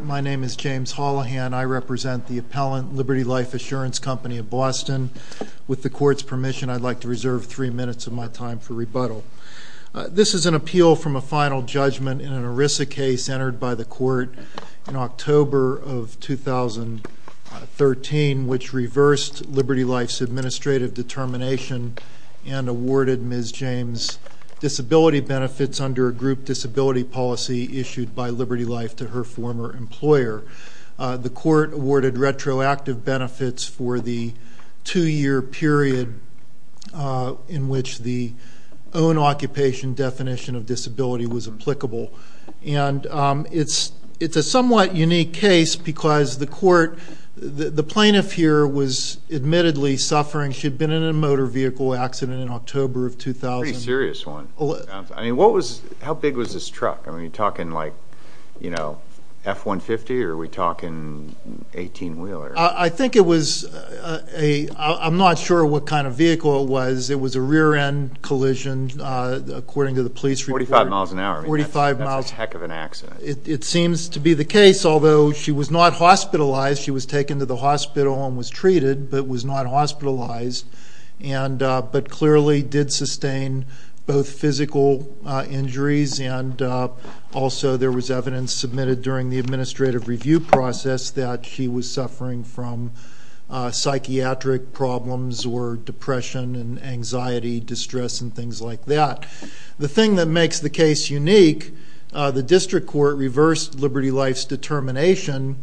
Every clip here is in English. My name is James Hollahan. I represent the appellant, Liberty Life Assurance Company of Boston. With the court's permission, I'd like to reserve three minutes of my time for rebuttal. This is an appeal from a final judgment in an ERISA case entered by the court in October of 2013, which reversed Liberty Life's administrative determination and awarded Ms. James disability benefits under a group disability policy issued by Liberty Life to her former employer. The court awarded retroactive benefits for the two-year period in which the own occupation definition of disability was applicable. It's a somewhat unique case because the plaintiff here was admittedly suffering. She had been in a motor vehicle accident in October of 2000. That's a serious one. How big was this truck? Are we talking F-150 or 18-wheeler? I'm not sure what kind of vehicle it was. It was a rear-end collision, according to the police report. Forty-five miles an hour. That's a heck of an accident. It seems to be the case, although she was not hospitalized. She was taken to the hospital and was treated, but was not hospitalized, but clearly did sustain both physical injuries, and also there was evidence submitted during the administrative review process that she was suffering from psychiatric problems or depression and anxiety, distress, and things like that. The thing that makes the case unique, the district court reversed Liberty Life's determination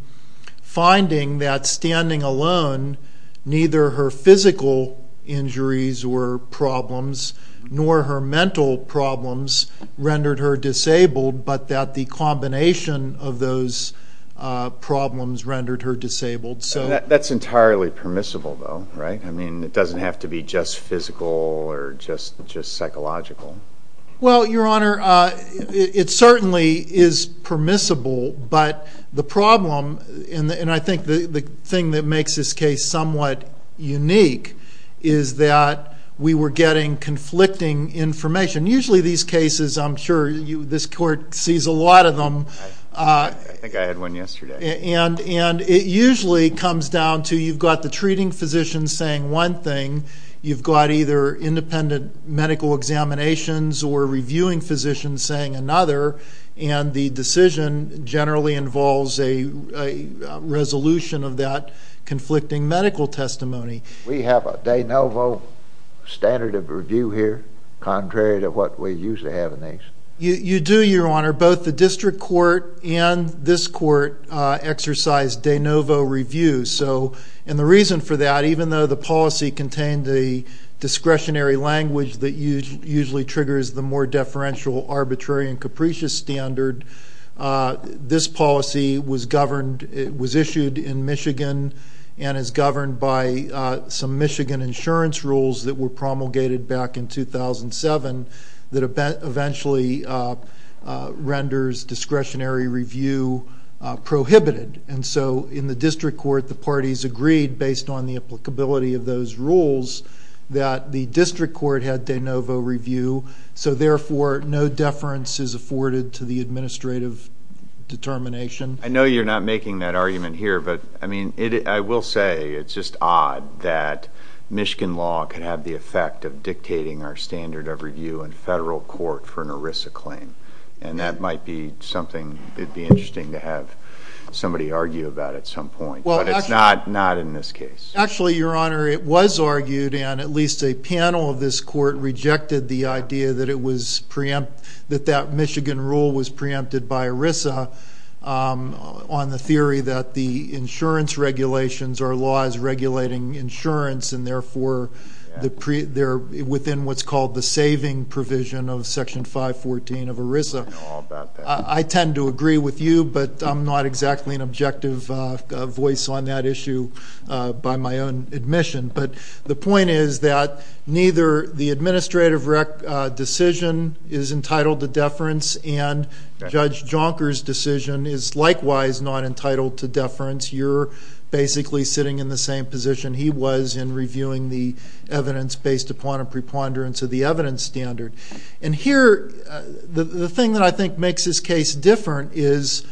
finding that standing alone, neither her physical injuries or problems, nor her mental problems, rendered her disabled, but that the combination of those problems rendered her disabled. That's entirely permissible, though, right? It doesn't have to be just physical or just psychological. Well, Your Honor, it certainly is permissible, but the problem, and I think the thing that makes this case somewhat unique, is that we were getting conflicting information. Usually these cases, I'm sure this court sees a lot of them. I think I had one yesterday. And it usually comes down to you've got the treating physician saying one thing, you've got either independent medical examinations or reviewing physicians saying another, and the decision generally involves a resolution of that conflicting medical testimony. We have a de novo standard of review here, contrary to what we usually have in this. You do, Your Honor. Both the district court and this court exercise de novo review. And the reason for that, even though the policy contained a discretionary language that usually triggers the more deferential, arbitrary, and capricious standard, this policy was issued in Michigan and is governed by some Michigan insurance rules that were promulgated back in 2007 that eventually renders discretionary review prohibited. And so in the district court, the parties agreed, based on the applicability of those rules, that the district court had de novo review, so therefore no deference is afforded to the administrative determination. I know you're not making that argument here, but, I mean, I will say it's just odd that Michigan law could have the effect of dictating our standard of review in federal court for an ERISA claim. And that might be something that would be interesting to have somebody argue about at some point. But it's not in this case. Actually, Your Honor, it was argued, and at least a panel of this court rejected the idea that that Michigan rule was preempted by ERISA on the theory that the insurance regulations are laws regulating insurance and, therefore, they're within what's called the saving provision of Section 514 of ERISA. I tend to agree with you, but I'm not exactly an objective voice on that issue by my own admission. But the point is that neither the administrative decision is entitled to deference and Judge Jonker's decision is likewise not entitled to deference. You're basically sitting in the same position he was in reviewing the evidence based upon a preponderance of the evidence standard. And here, the thing that I think makes this case different is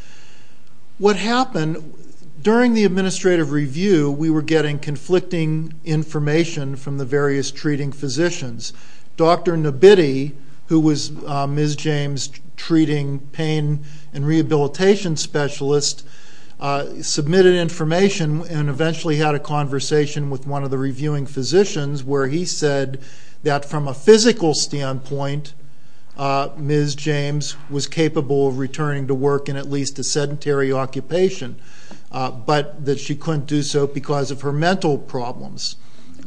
what happened during the administrative review, we were getting conflicting information from the various treating physicians. Dr. Nabitti, who was Ms. James' treating pain and rehabilitation specialist, submitted information and eventually had a conversation with one of the reviewing physicians where he said that from a physical standpoint, Ms. James was capable of returning to work in at least a sedentary occupation, but that she couldn't do so because of her mental problems.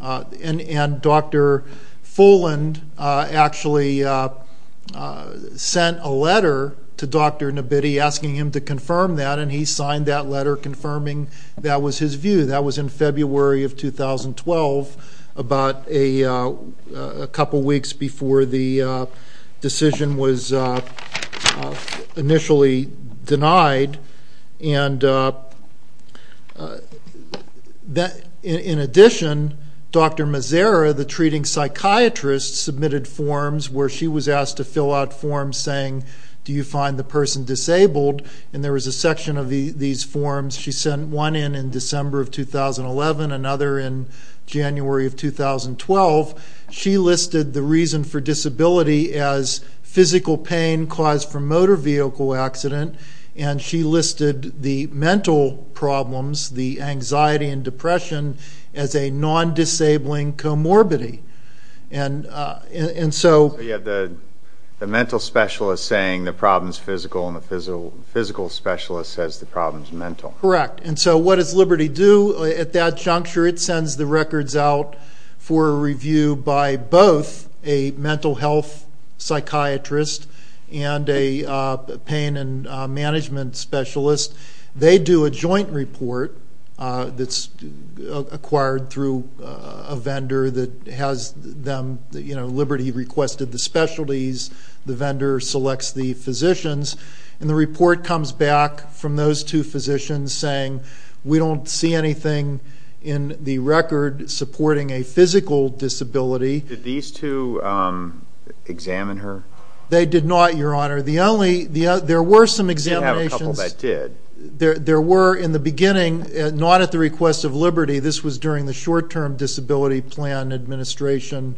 And Dr. Fulland actually sent a letter to Dr. Nabitti asking him to confirm that, and he signed that letter confirming that was his view. That was in February of 2012, about a couple weeks before the decision was initially denied. In addition, Dr. Mazera, the treating psychiatrist, submitted forms where she was asked to fill out forms saying do you find the person disabled, and there was a section of these forms. She sent one in in December of 2011, another in January of 2012. She listed the reason for disability as physical pain caused from motor vehicle accident, and she listed the mental problems, the anxiety and depression, as a non-disabling comorbidity. So you have the mental specialist saying the problem is physical, and the physical specialist says the problem is mental. Correct. And so what does Liberty do at that juncture? It sends the records out for review by both a mental health psychiatrist and a pain and management specialist. They do a joint report that's acquired through a vendor that has them, you know, Liberty requested the specialties, the vendor selects the physicians, and the report comes back from those two physicians saying we don't see anything in the record supporting a physical disability. Did these two examine her? They did not, Your Honor. They did have a couple that did. There were, in the beginning, not at the request of Liberty. This was during the short-term disability plan administration,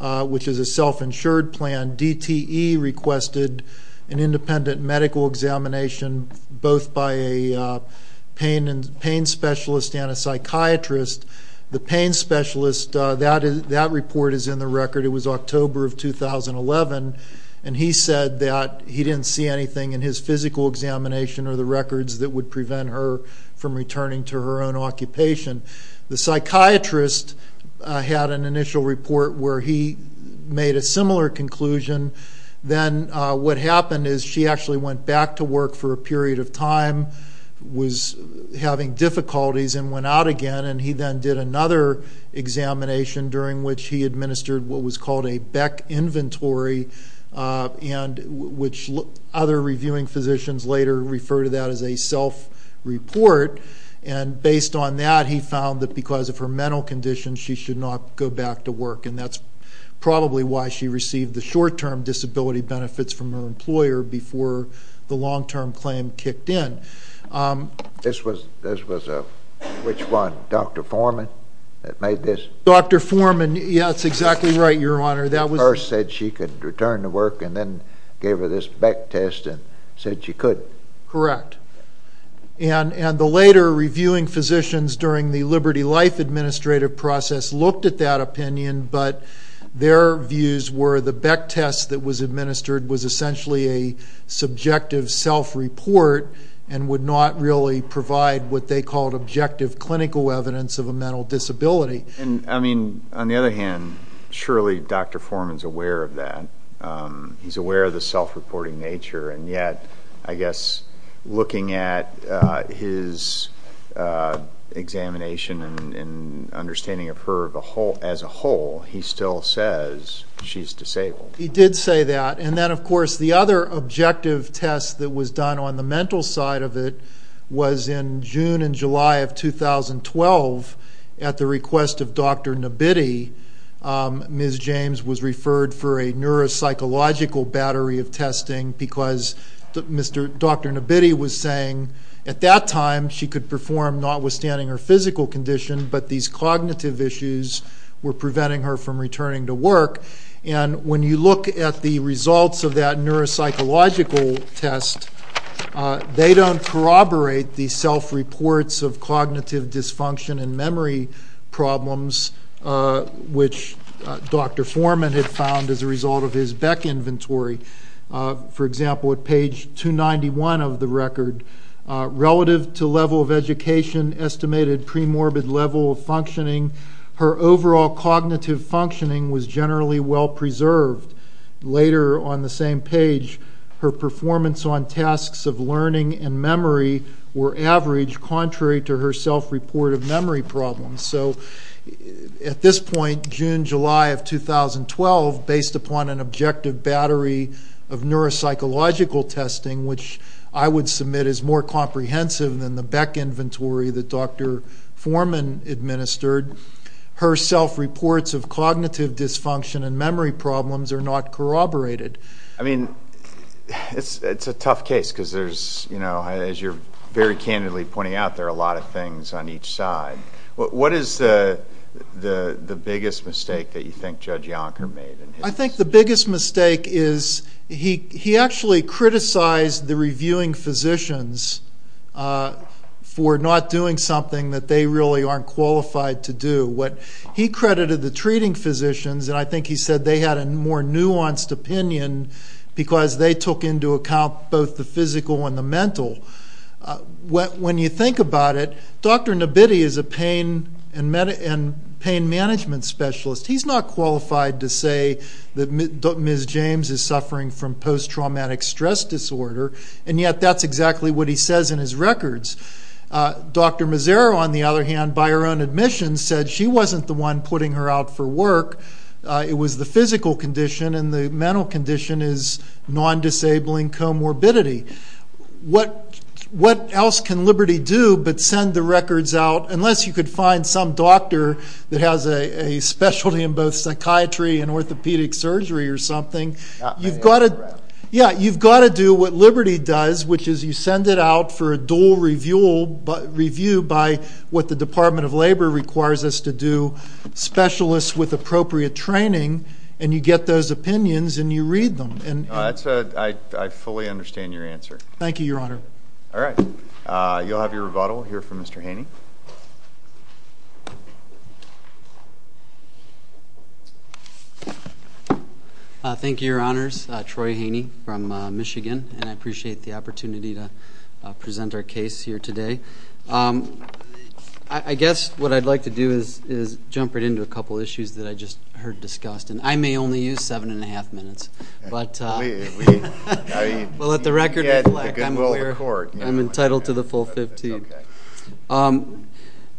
which is a self-insured plan. DTE requested an independent medical examination both by a pain specialist and a psychiatrist. The pain specialist, that report is in the record. It was October of 2011, and he said that he didn't see anything in his physical examination or the records that would prevent her from returning to her own occupation. The psychiatrist had an initial report where he made a similar conclusion. Then what happened is she actually went back to work for a period of time, was having difficulties, and went out again. And he then did another examination during which he administered what was called a Beck inventory, which other reviewing physicians later refer to that as a self-report. And based on that, he found that because of her mental condition, she should not go back to work, and that's probably why she received the short-term disability benefits from her employer before the long-term claim kicked in. This was a which one, Dr. Foreman that made this? Dr. Foreman, yes, that's exactly right, Your Honor. He first said she could return to work and then gave her this Beck test and said she could. Correct. And the later reviewing physicians during the Liberty Life administrative process looked at that opinion, but their views were the Beck test that was administered was essentially a subjective self-report and would not really provide what they called objective clinical evidence of a mental disability. I mean, on the other hand, surely Dr. Foreman is aware of that. He's aware of the self-reporting nature, and yet I guess looking at his examination and understanding of her as a whole, he still says she's disabled. He did say that. And then, of course, the other objective test that was done on the mental side of it was in June and July of 2012 at the request of Dr. Nabitti. Ms. James was referred for a neuropsychological battery of testing because Dr. Nabitti was saying at that time she could perform notwithstanding her physical condition, but these cognitive issues were preventing her from returning to work. And when you look at the results of that neuropsychological test, they don't corroborate the self-reports of cognitive dysfunction and memory problems, which Dr. Foreman had found as a result of his Beck inventory. For example, at page 291 of the record, relative to level of education estimated premorbid level of functioning, her overall cognitive functioning was generally well preserved. Later on the same page, her performance on tasks of learning and memory were average, contrary to her self-report of memory problems. So at this point, June, July of 2012, based upon an objective battery of neuropsychological testing, which I would submit is more comprehensive than the Beck inventory that Dr. Foreman administered, her self-reports of cognitive dysfunction and memory problems are not corroborated. I mean, it's a tough case because there's, as you're very candidly pointing out, there are a lot of things on each side. What is the biggest mistake that you think Judge Yonker made? I think the biggest mistake is he actually criticized the reviewing physicians for not doing something that they really aren't qualified to do. What he credited the treating physicians, and I think he said they had a more nuanced opinion because they took into account both the physical and the mental. When you think about it, Dr. Nabitti is a pain and pain management specialist. He's not qualified to say that Ms. James is suffering from post-traumatic stress disorder, and yet that's exactly what he says in his records. Dr. Mazzaro, on the other hand, by her own admission, said she wasn't the one putting her out for work. It was the physical condition, and the mental condition is non-disabling comorbidity. What else can Liberty do but send the records out? Unless you could find some doctor that has a specialty in both psychiatry and orthopedic surgery or something. You've got to do what Liberty does, which is you send it out for a dual review by what the Department of Labor requires us to do, specialists with appropriate training, and you get those opinions and you read them. I fully understand your answer. Thank you, Your Honor. All right. You'll have your rebuttal here from Mr. Haney. Thank you, Your Honors. Troy Haney from Michigan, and I appreciate the opportunity to present our case here today. I guess what I'd like to do is jump right into a couple of issues that I just heard discussed, and I may only use seven and a half minutes, but we'll let the record reflect. I'm entitled to the full 15. Okay.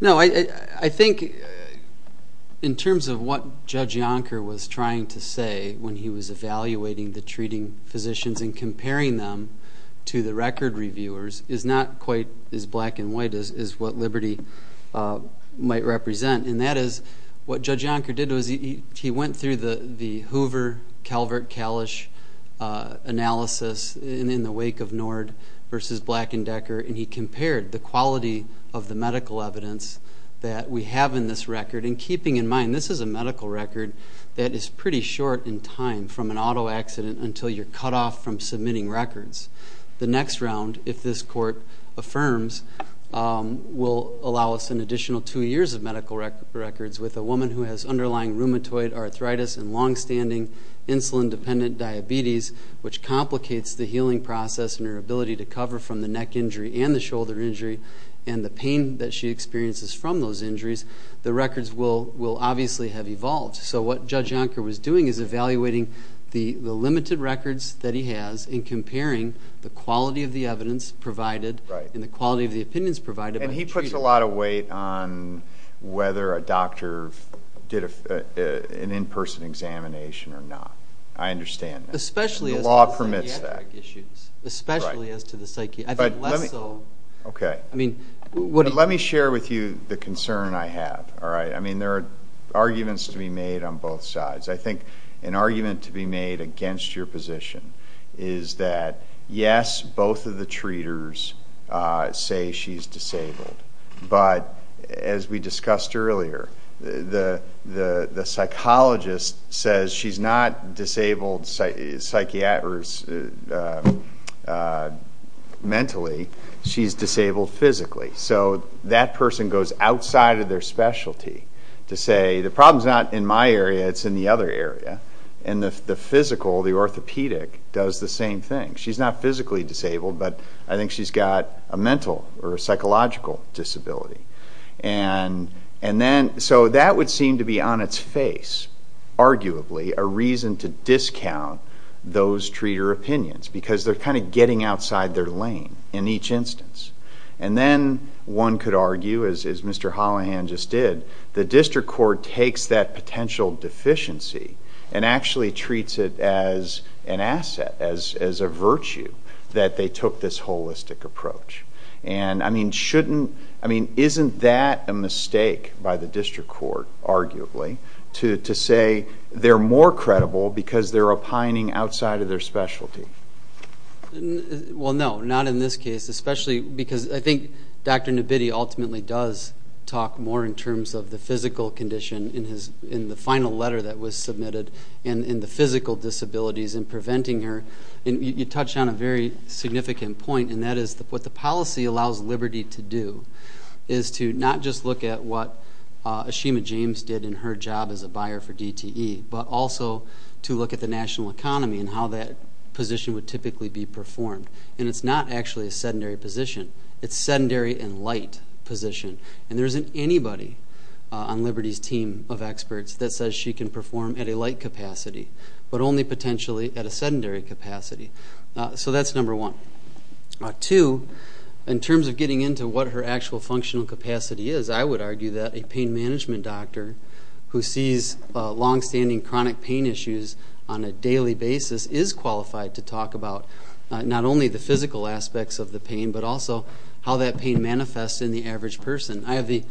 No, I think in terms of what Judge Yonker was trying to say when he was evaluating the treating physicians and comparing them to the record reviewers is not quite as black and white as what Liberty might represent, and that is what Judge Yonker did was he went through the Hoover-Calvert-Kalish analysis in the wake of Nord v. Black and Decker, and he compared the quality of the medical evidence that we have in this record, and keeping in mind this is a medical record that is pretty short in time from an auto accident until you're cut off from submitting records. The next round, if this Court affirms, will allow us an additional two years of medical records with a woman who has underlying rheumatoid arthritis and longstanding insulin-dependent diabetes, which complicates the healing process and her ability to cover from the neck injury and the shoulder injury and the pain that she experiences from those injuries, the records will obviously have evolved. So what Judge Yonker was doing is evaluating the limited records that he has and comparing the quality of the evidence provided and the quality of the opinions provided. And he puts a lot of weight on whether a doctor did an in-person examination or not. I understand that. The law permits that. Especially as to the psychiatric issues. Okay. Let me share with you the concern I have. I mean, there are arguments to be made on both sides. I think an argument to be made against your position is that, yes, both of the treaters say she's disabled, but as we discussed earlier, the psychologist says she's not disabled mentally, she's disabled physically. So that person goes outside of their specialty to say, the problem's not in my area, it's in the other area. And the physical, the orthopedic, does the same thing. She's not physically disabled, but I think she's got a mental or a psychological disability. And then so that would seem to be on its face, arguably, a reason to discount those treater opinions because they're kind of getting outside their lane in each instance. And then one could argue, as Mr. Hollahan just did, that the district court takes that potential deficiency and actually treats it as an asset, as a virtue that they took this holistic approach. And, I mean, isn't that a mistake by the district court, arguably, to say they're more credible because they're opining outside of their specialty? Well, no, not in this case. Especially because I think Dr. Nabitti ultimately does talk more in terms of the physical condition in the final letter that was submitted and the physical disabilities in preventing her. You touched on a very significant point, and that is what the policy allows Liberty to do is to not just look at what Ashima James did in her job as a buyer for DTE, but also to look at the national economy and how that position would typically be performed. And it's not actually a sedentary position. It's a sedentary and light position. And there isn't anybody on Liberty's team of experts that says she can perform at a light capacity, but only potentially at a sedentary capacity. So that's number one. Two, in terms of getting into what her actual functional capacity is, I would argue that a pain management doctor who sees longstanding chronic pain issues on a daily basis is qualified to talk about not only the physical aspects of the pain, but also how that pain manifests in the average person. I have the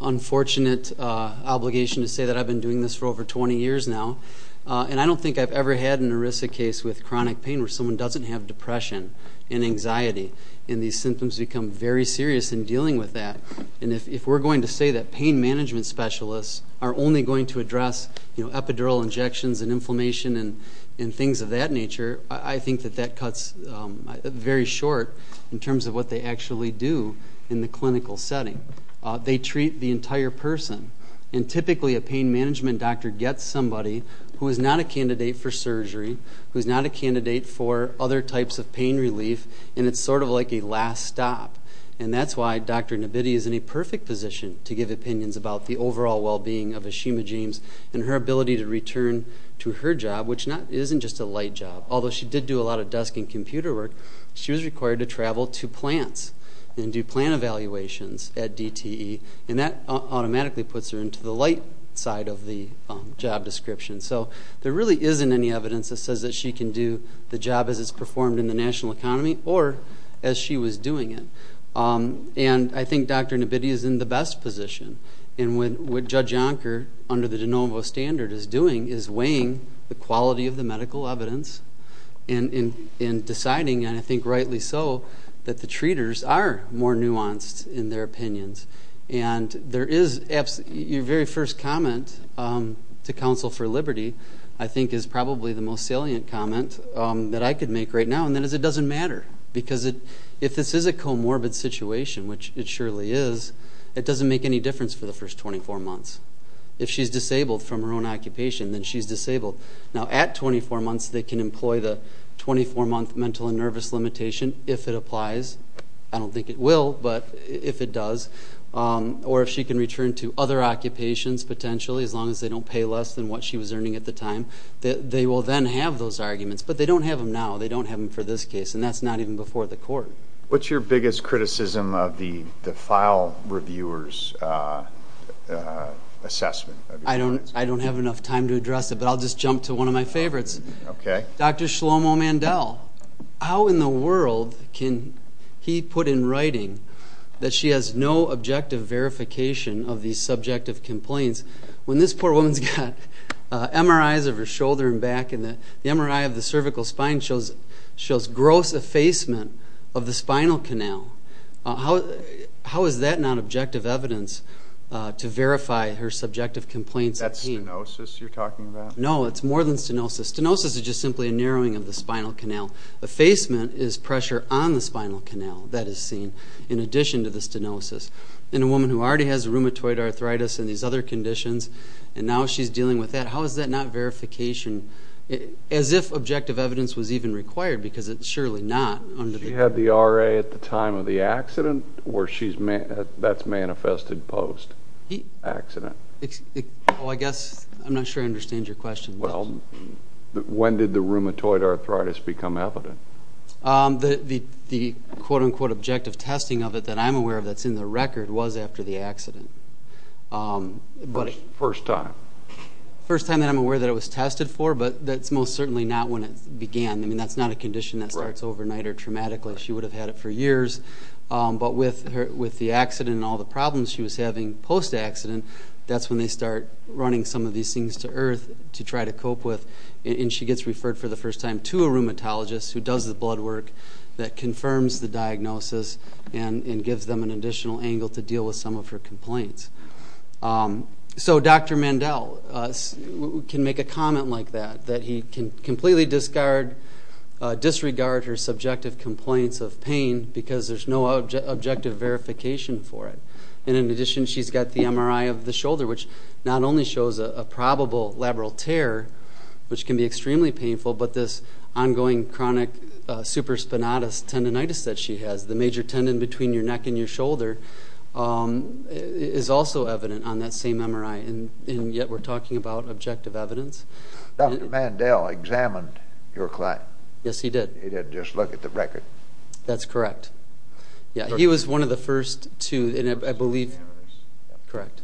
unfortunate obligation to say that I've been doing this for over 20 years now, and I don't think I've ever had an ERISA case with chronic pain where someone doesn't have depression and anxiety, and these symptoms become very serious in dealing with that. And if we're going to say that pain management specialists are only going to address epidural injections and inflammation and things of that nature, I think that that cuts very short in terms of what they actually do in the clinical setting. They treat the entire person. And typically a pain management doctor gets somebody who is not a candidate for surgery, who is not a candidate for other types of pain relief, and it's sort of like a last stop. And that's why Dr. Nabitti is in a perfect position to give opinions about the overall well-being of Ashima James and her ability to return to her job, which isn't just a light job. Although she did do a lot of desk and computer work, she was required to travel to plants and do plant evaluations at DTE, and that automatically puts her into the light side of the job description. So there really isn't any evidence that says that she can do the job as it's performed in the national economy or as she was doing it. And I think Dr. Nabitti is in the best position. And what Judge Yonker, under the de novo standard, is doing is weighing the quality of the medical evidence and deciding, and I think rightly so, that the treaters are more nuanced in their opinions. And your very first comment to Counsel for Liberty, I think, is probably the most salient comment that I could make right now, and that is it doesn't matter because if this is a comorbid situation, which it surely is, it doesn't make any difference for the first 24 months. If she's disabled from her own occupation, then she's disabled. Now, at 24 months, they can employ the 24-month mental and nervous limitation if it applies. I don't think it will, but if it does. Or if she can return to other occupations, potentially, as long as they don't pay less than what she was earning at the time, they will then have those arguments. But they don't have them now. They don't have them for this case. And that's not even before the court. What's your biggest criticism of the file reviewer's assessment? I don't have enough time to address it, but I'll just jump to one of my favorites. Dr. Shlomo Mandel, how in the world can he put in writing that she has no objective verification of these subjective complaints when this poor woman's got MRIs of her shoulder and back and the MRI of the cervical spine shows gross effacement of the spinal canal? How is that not objective evidence to verify her subjective complaints? That's stenosis you're talking about? No, it's more than stenosis. Stenosis is just simply a narrowing of the spinal canal. Effacement is pressure on the spinal canal that is seen in addition to the stenosis. And a woman who already has rheumatoid arthritis and these other conditions, and now she's dealing with that, how is that not verification? As if objective evidence was even required, because it's surely not. She had the RA at the time of the accident, or that's manifested post-accident? Oh, I guess I'm not sure I understand your question. Well, when did the rheumatoid arthritis become evident? The quote-unquote objective testing of it that I'm aware of that's in the record was after the accident. First time? First time that I'm aware that it was tested for, but that's most certainly not when it began. I mean, that's not a condition that starts overnight or traumatically. She would have had it for years. But with the accident and all the problems she was having post-accident, that's when they start running some of these things to earth to try to cope with. And she gets referred for the first time to a rheumatologist who does the blood work that confirms the diagnosis and gives them an additional angle to deal with some of her complaints. So Dr. Mandel can make a comment like that, that he can completely disregard her subjective complaints of pain because there's no objective verification for it. And in addition, she's got the MRI of the shoulder, which not only shows a probable labral tear, which can be extremely painful, but this ongoing chronic supraspinatus tendonitis that she has, the major tendon between your neck and your shoulder, is also evident on that same MRI. And yet we're talking about objective evidence. Dr. Mandel examined your client? Yes, he did. He did just look at the record? That's correct. Yeah, he was one of the first to, I believe. Correct.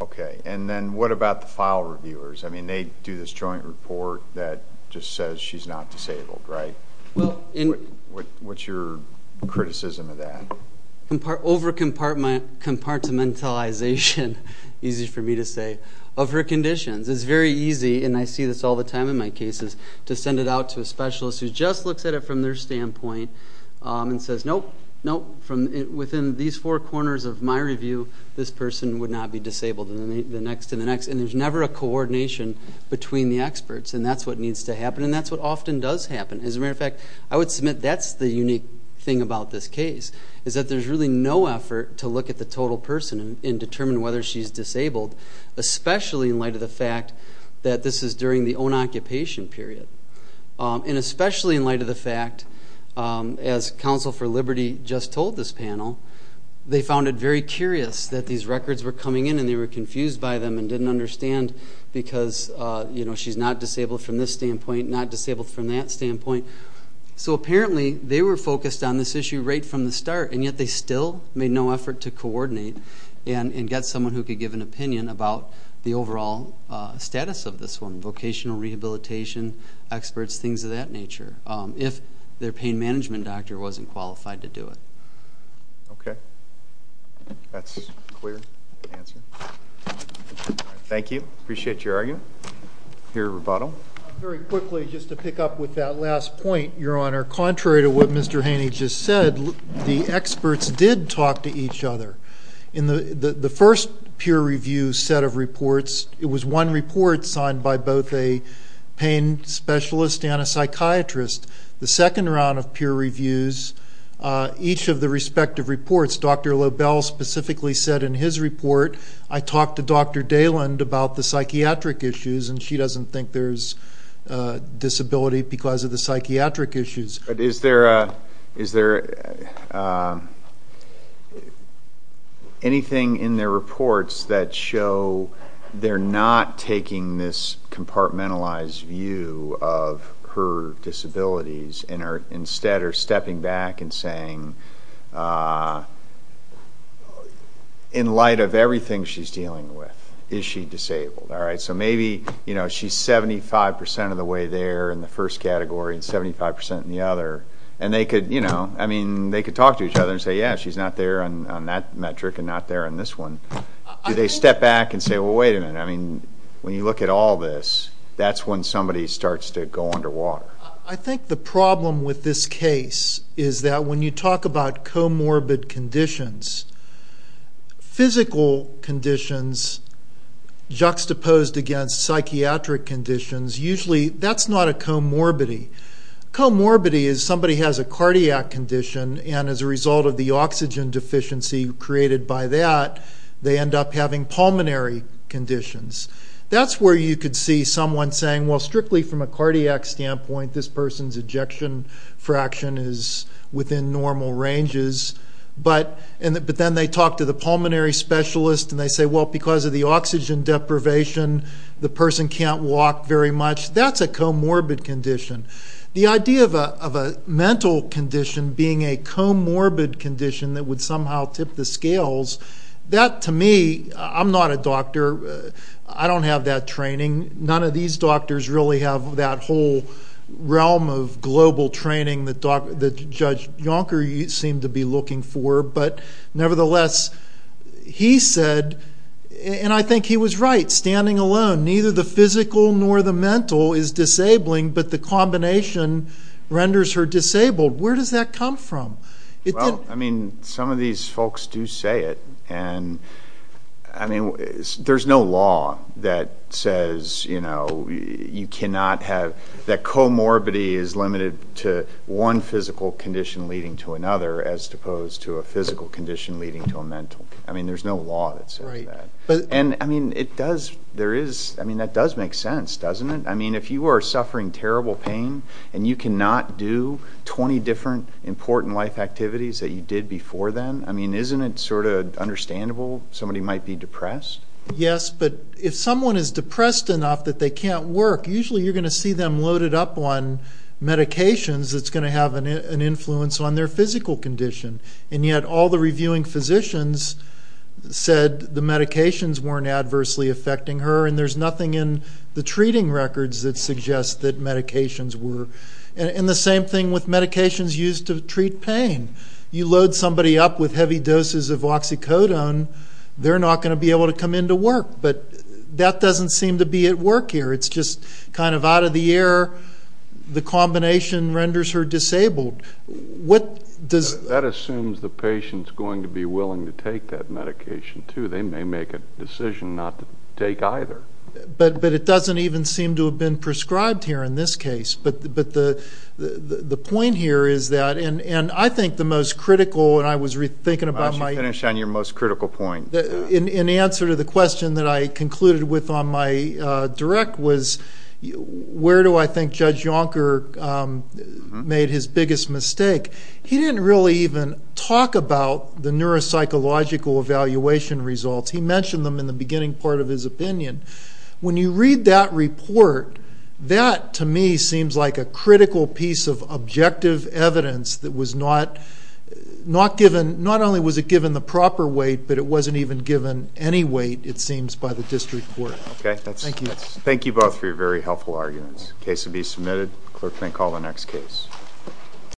Okay. And then what about the file reviewers? I mean, they do this joint report that just says she's not disabled, right? What's your criticism of that? Over-compartmentalization, easy for me to say, of her conditions. It's very easy, and I see this all the time in my cases, to send it out to a specialist who just looks at it from their standpoint and says, nope, nope, within these four corners of my review, this person would not be disabled, and the next to the next, and there's never a coordination between the experts, and that's what needs to happen, and that's what often does happen. As a matter of fact, I would submit that's the unique thing about this case, is that there's really no effort to look at the total person and determine whether she's disabled, especially in light of the fact that this is during the own occupation period. And especially in light of the fact, as Counsel for Liberty just told this panel, they found it very curious that these records were coming in, and they were confused by them and didn't understand because, you know, she's not disabled from this standpoint, not disabled from that standpoint. So apparently they were focused on this issue right from the start, and yet they still made no effort to coordinate and get someone who could give an opinion about the overall status of this woman, vocational rehabilitation experts, things of that nature, if their pain management doctor wasn't qualified to do it. Okay. That's a clear answer. Thank you. Appreciate your argument. Here, Roboto. Very quickly, just to pick up with that last point, Your Honor, contrary to what Mr. Haney just said, the experts did talk to each other. In the first peer review set of reports, it was one report signed by both a pain specialist and a psychiatrist. The second round of peer reviews, each of the respective reports, Dr. Lobel specifically said in his report, I talked to Dr. Dayland about the psychiatric issues, and she doesn't think there's disability because of the psychiatric issues. But is there anything in their reports that show they're not taking this compartmentalized view of her disabilities and instead are stepping back and saying, in light of everything she's dealing with, is she disabled? So maybe she's 75% of the way there in the first category and 75% in the other. And they could talk to each other and say, yeah, she's not there on that metric and not there on this one. Do they step back and say, well, wait a minute, when you look at all this, that's when somebody starts to go underwater. I think the problem with this case is that when you talk about comorbid conditions, physical conditions juxtaposed against psychiatric conditions, usually that's not a comorbidity. Comorbidity is somebody has a cardiac condition, and as a result of the oxygen deficiency created by that, they end up having pulmonary conditions. That's where you could see someone saying, well, strictly from a cardiac standpoint, this person's ejection fraction is within normal ranges. But then they talk to the pulmonary specialist and they say, well, because of the oxygen deprivation, the person can't walk very much. That's a comorbid condition. The idea of a mental condition being a comorbid condition that would somehow tip the scales, that to me, I'm not a doctor. I don't have that training. None of these doctors really have that whole realm of global training that Judge Jonker seemed to be looking for. But nevertheless, he said, and I think he was right, standing alone, neither the physical nor the mental is disabling, but the combination renders her disabled. Where does that come from? Well, I mean, some of these folks do say it. There's no law that says you cannot have that comorbidity is limited to one physical condition leading to another as opposed to a physical condition leading to a mental. I mean, there's no law that says that. And, I mean, it does, there is, I mean, that does make sense, doesn't it? I mean, if you are suffering terrible pain and you cannot do 20 different important life activities that you did before then, I mean, isn't it sort of understandable somebody might be depressed? Yes, but if someone is depressed enough that they can't work, usually you're going to see them loaded up on medications that's going to have an influence on their physical condition. And yet all the reviewing physicians said the medications weren't adversely affecting her, and there's nothing in the treating records that suggests that medications were. And the same thing with medications used to treat pain. You load somebody up with heavy doses of oxycodone, they're not going to be able to come into work. But that doesn't seem to be at work here. It's just kind of out of the air. The combination renders her disabled. That assumes the patient is going to be willing to take that medication, too. They may make a decision not to take either. But it doesn't even seem to have been prescribed here in this case. But the point here is that, and I think the most critical, and I was thinking about my... Why don't you finish on your most critical point? In answer to the question that I concluded with on my direct was, where do I think Judge Jonker made his biggest mistake? He didn't really even talk about the neuropsychological evaluation results. He mentioned them in the beginning part of his opinion. When you read that report, that, to me, seems like a critical piece of objective evidence that was not given, not only was it given the proper weight, but it wasn't even given any weight, it seems, by the district court. Thank you both for your very helpful arguments. The case will be submitted. The clerk may call the next case.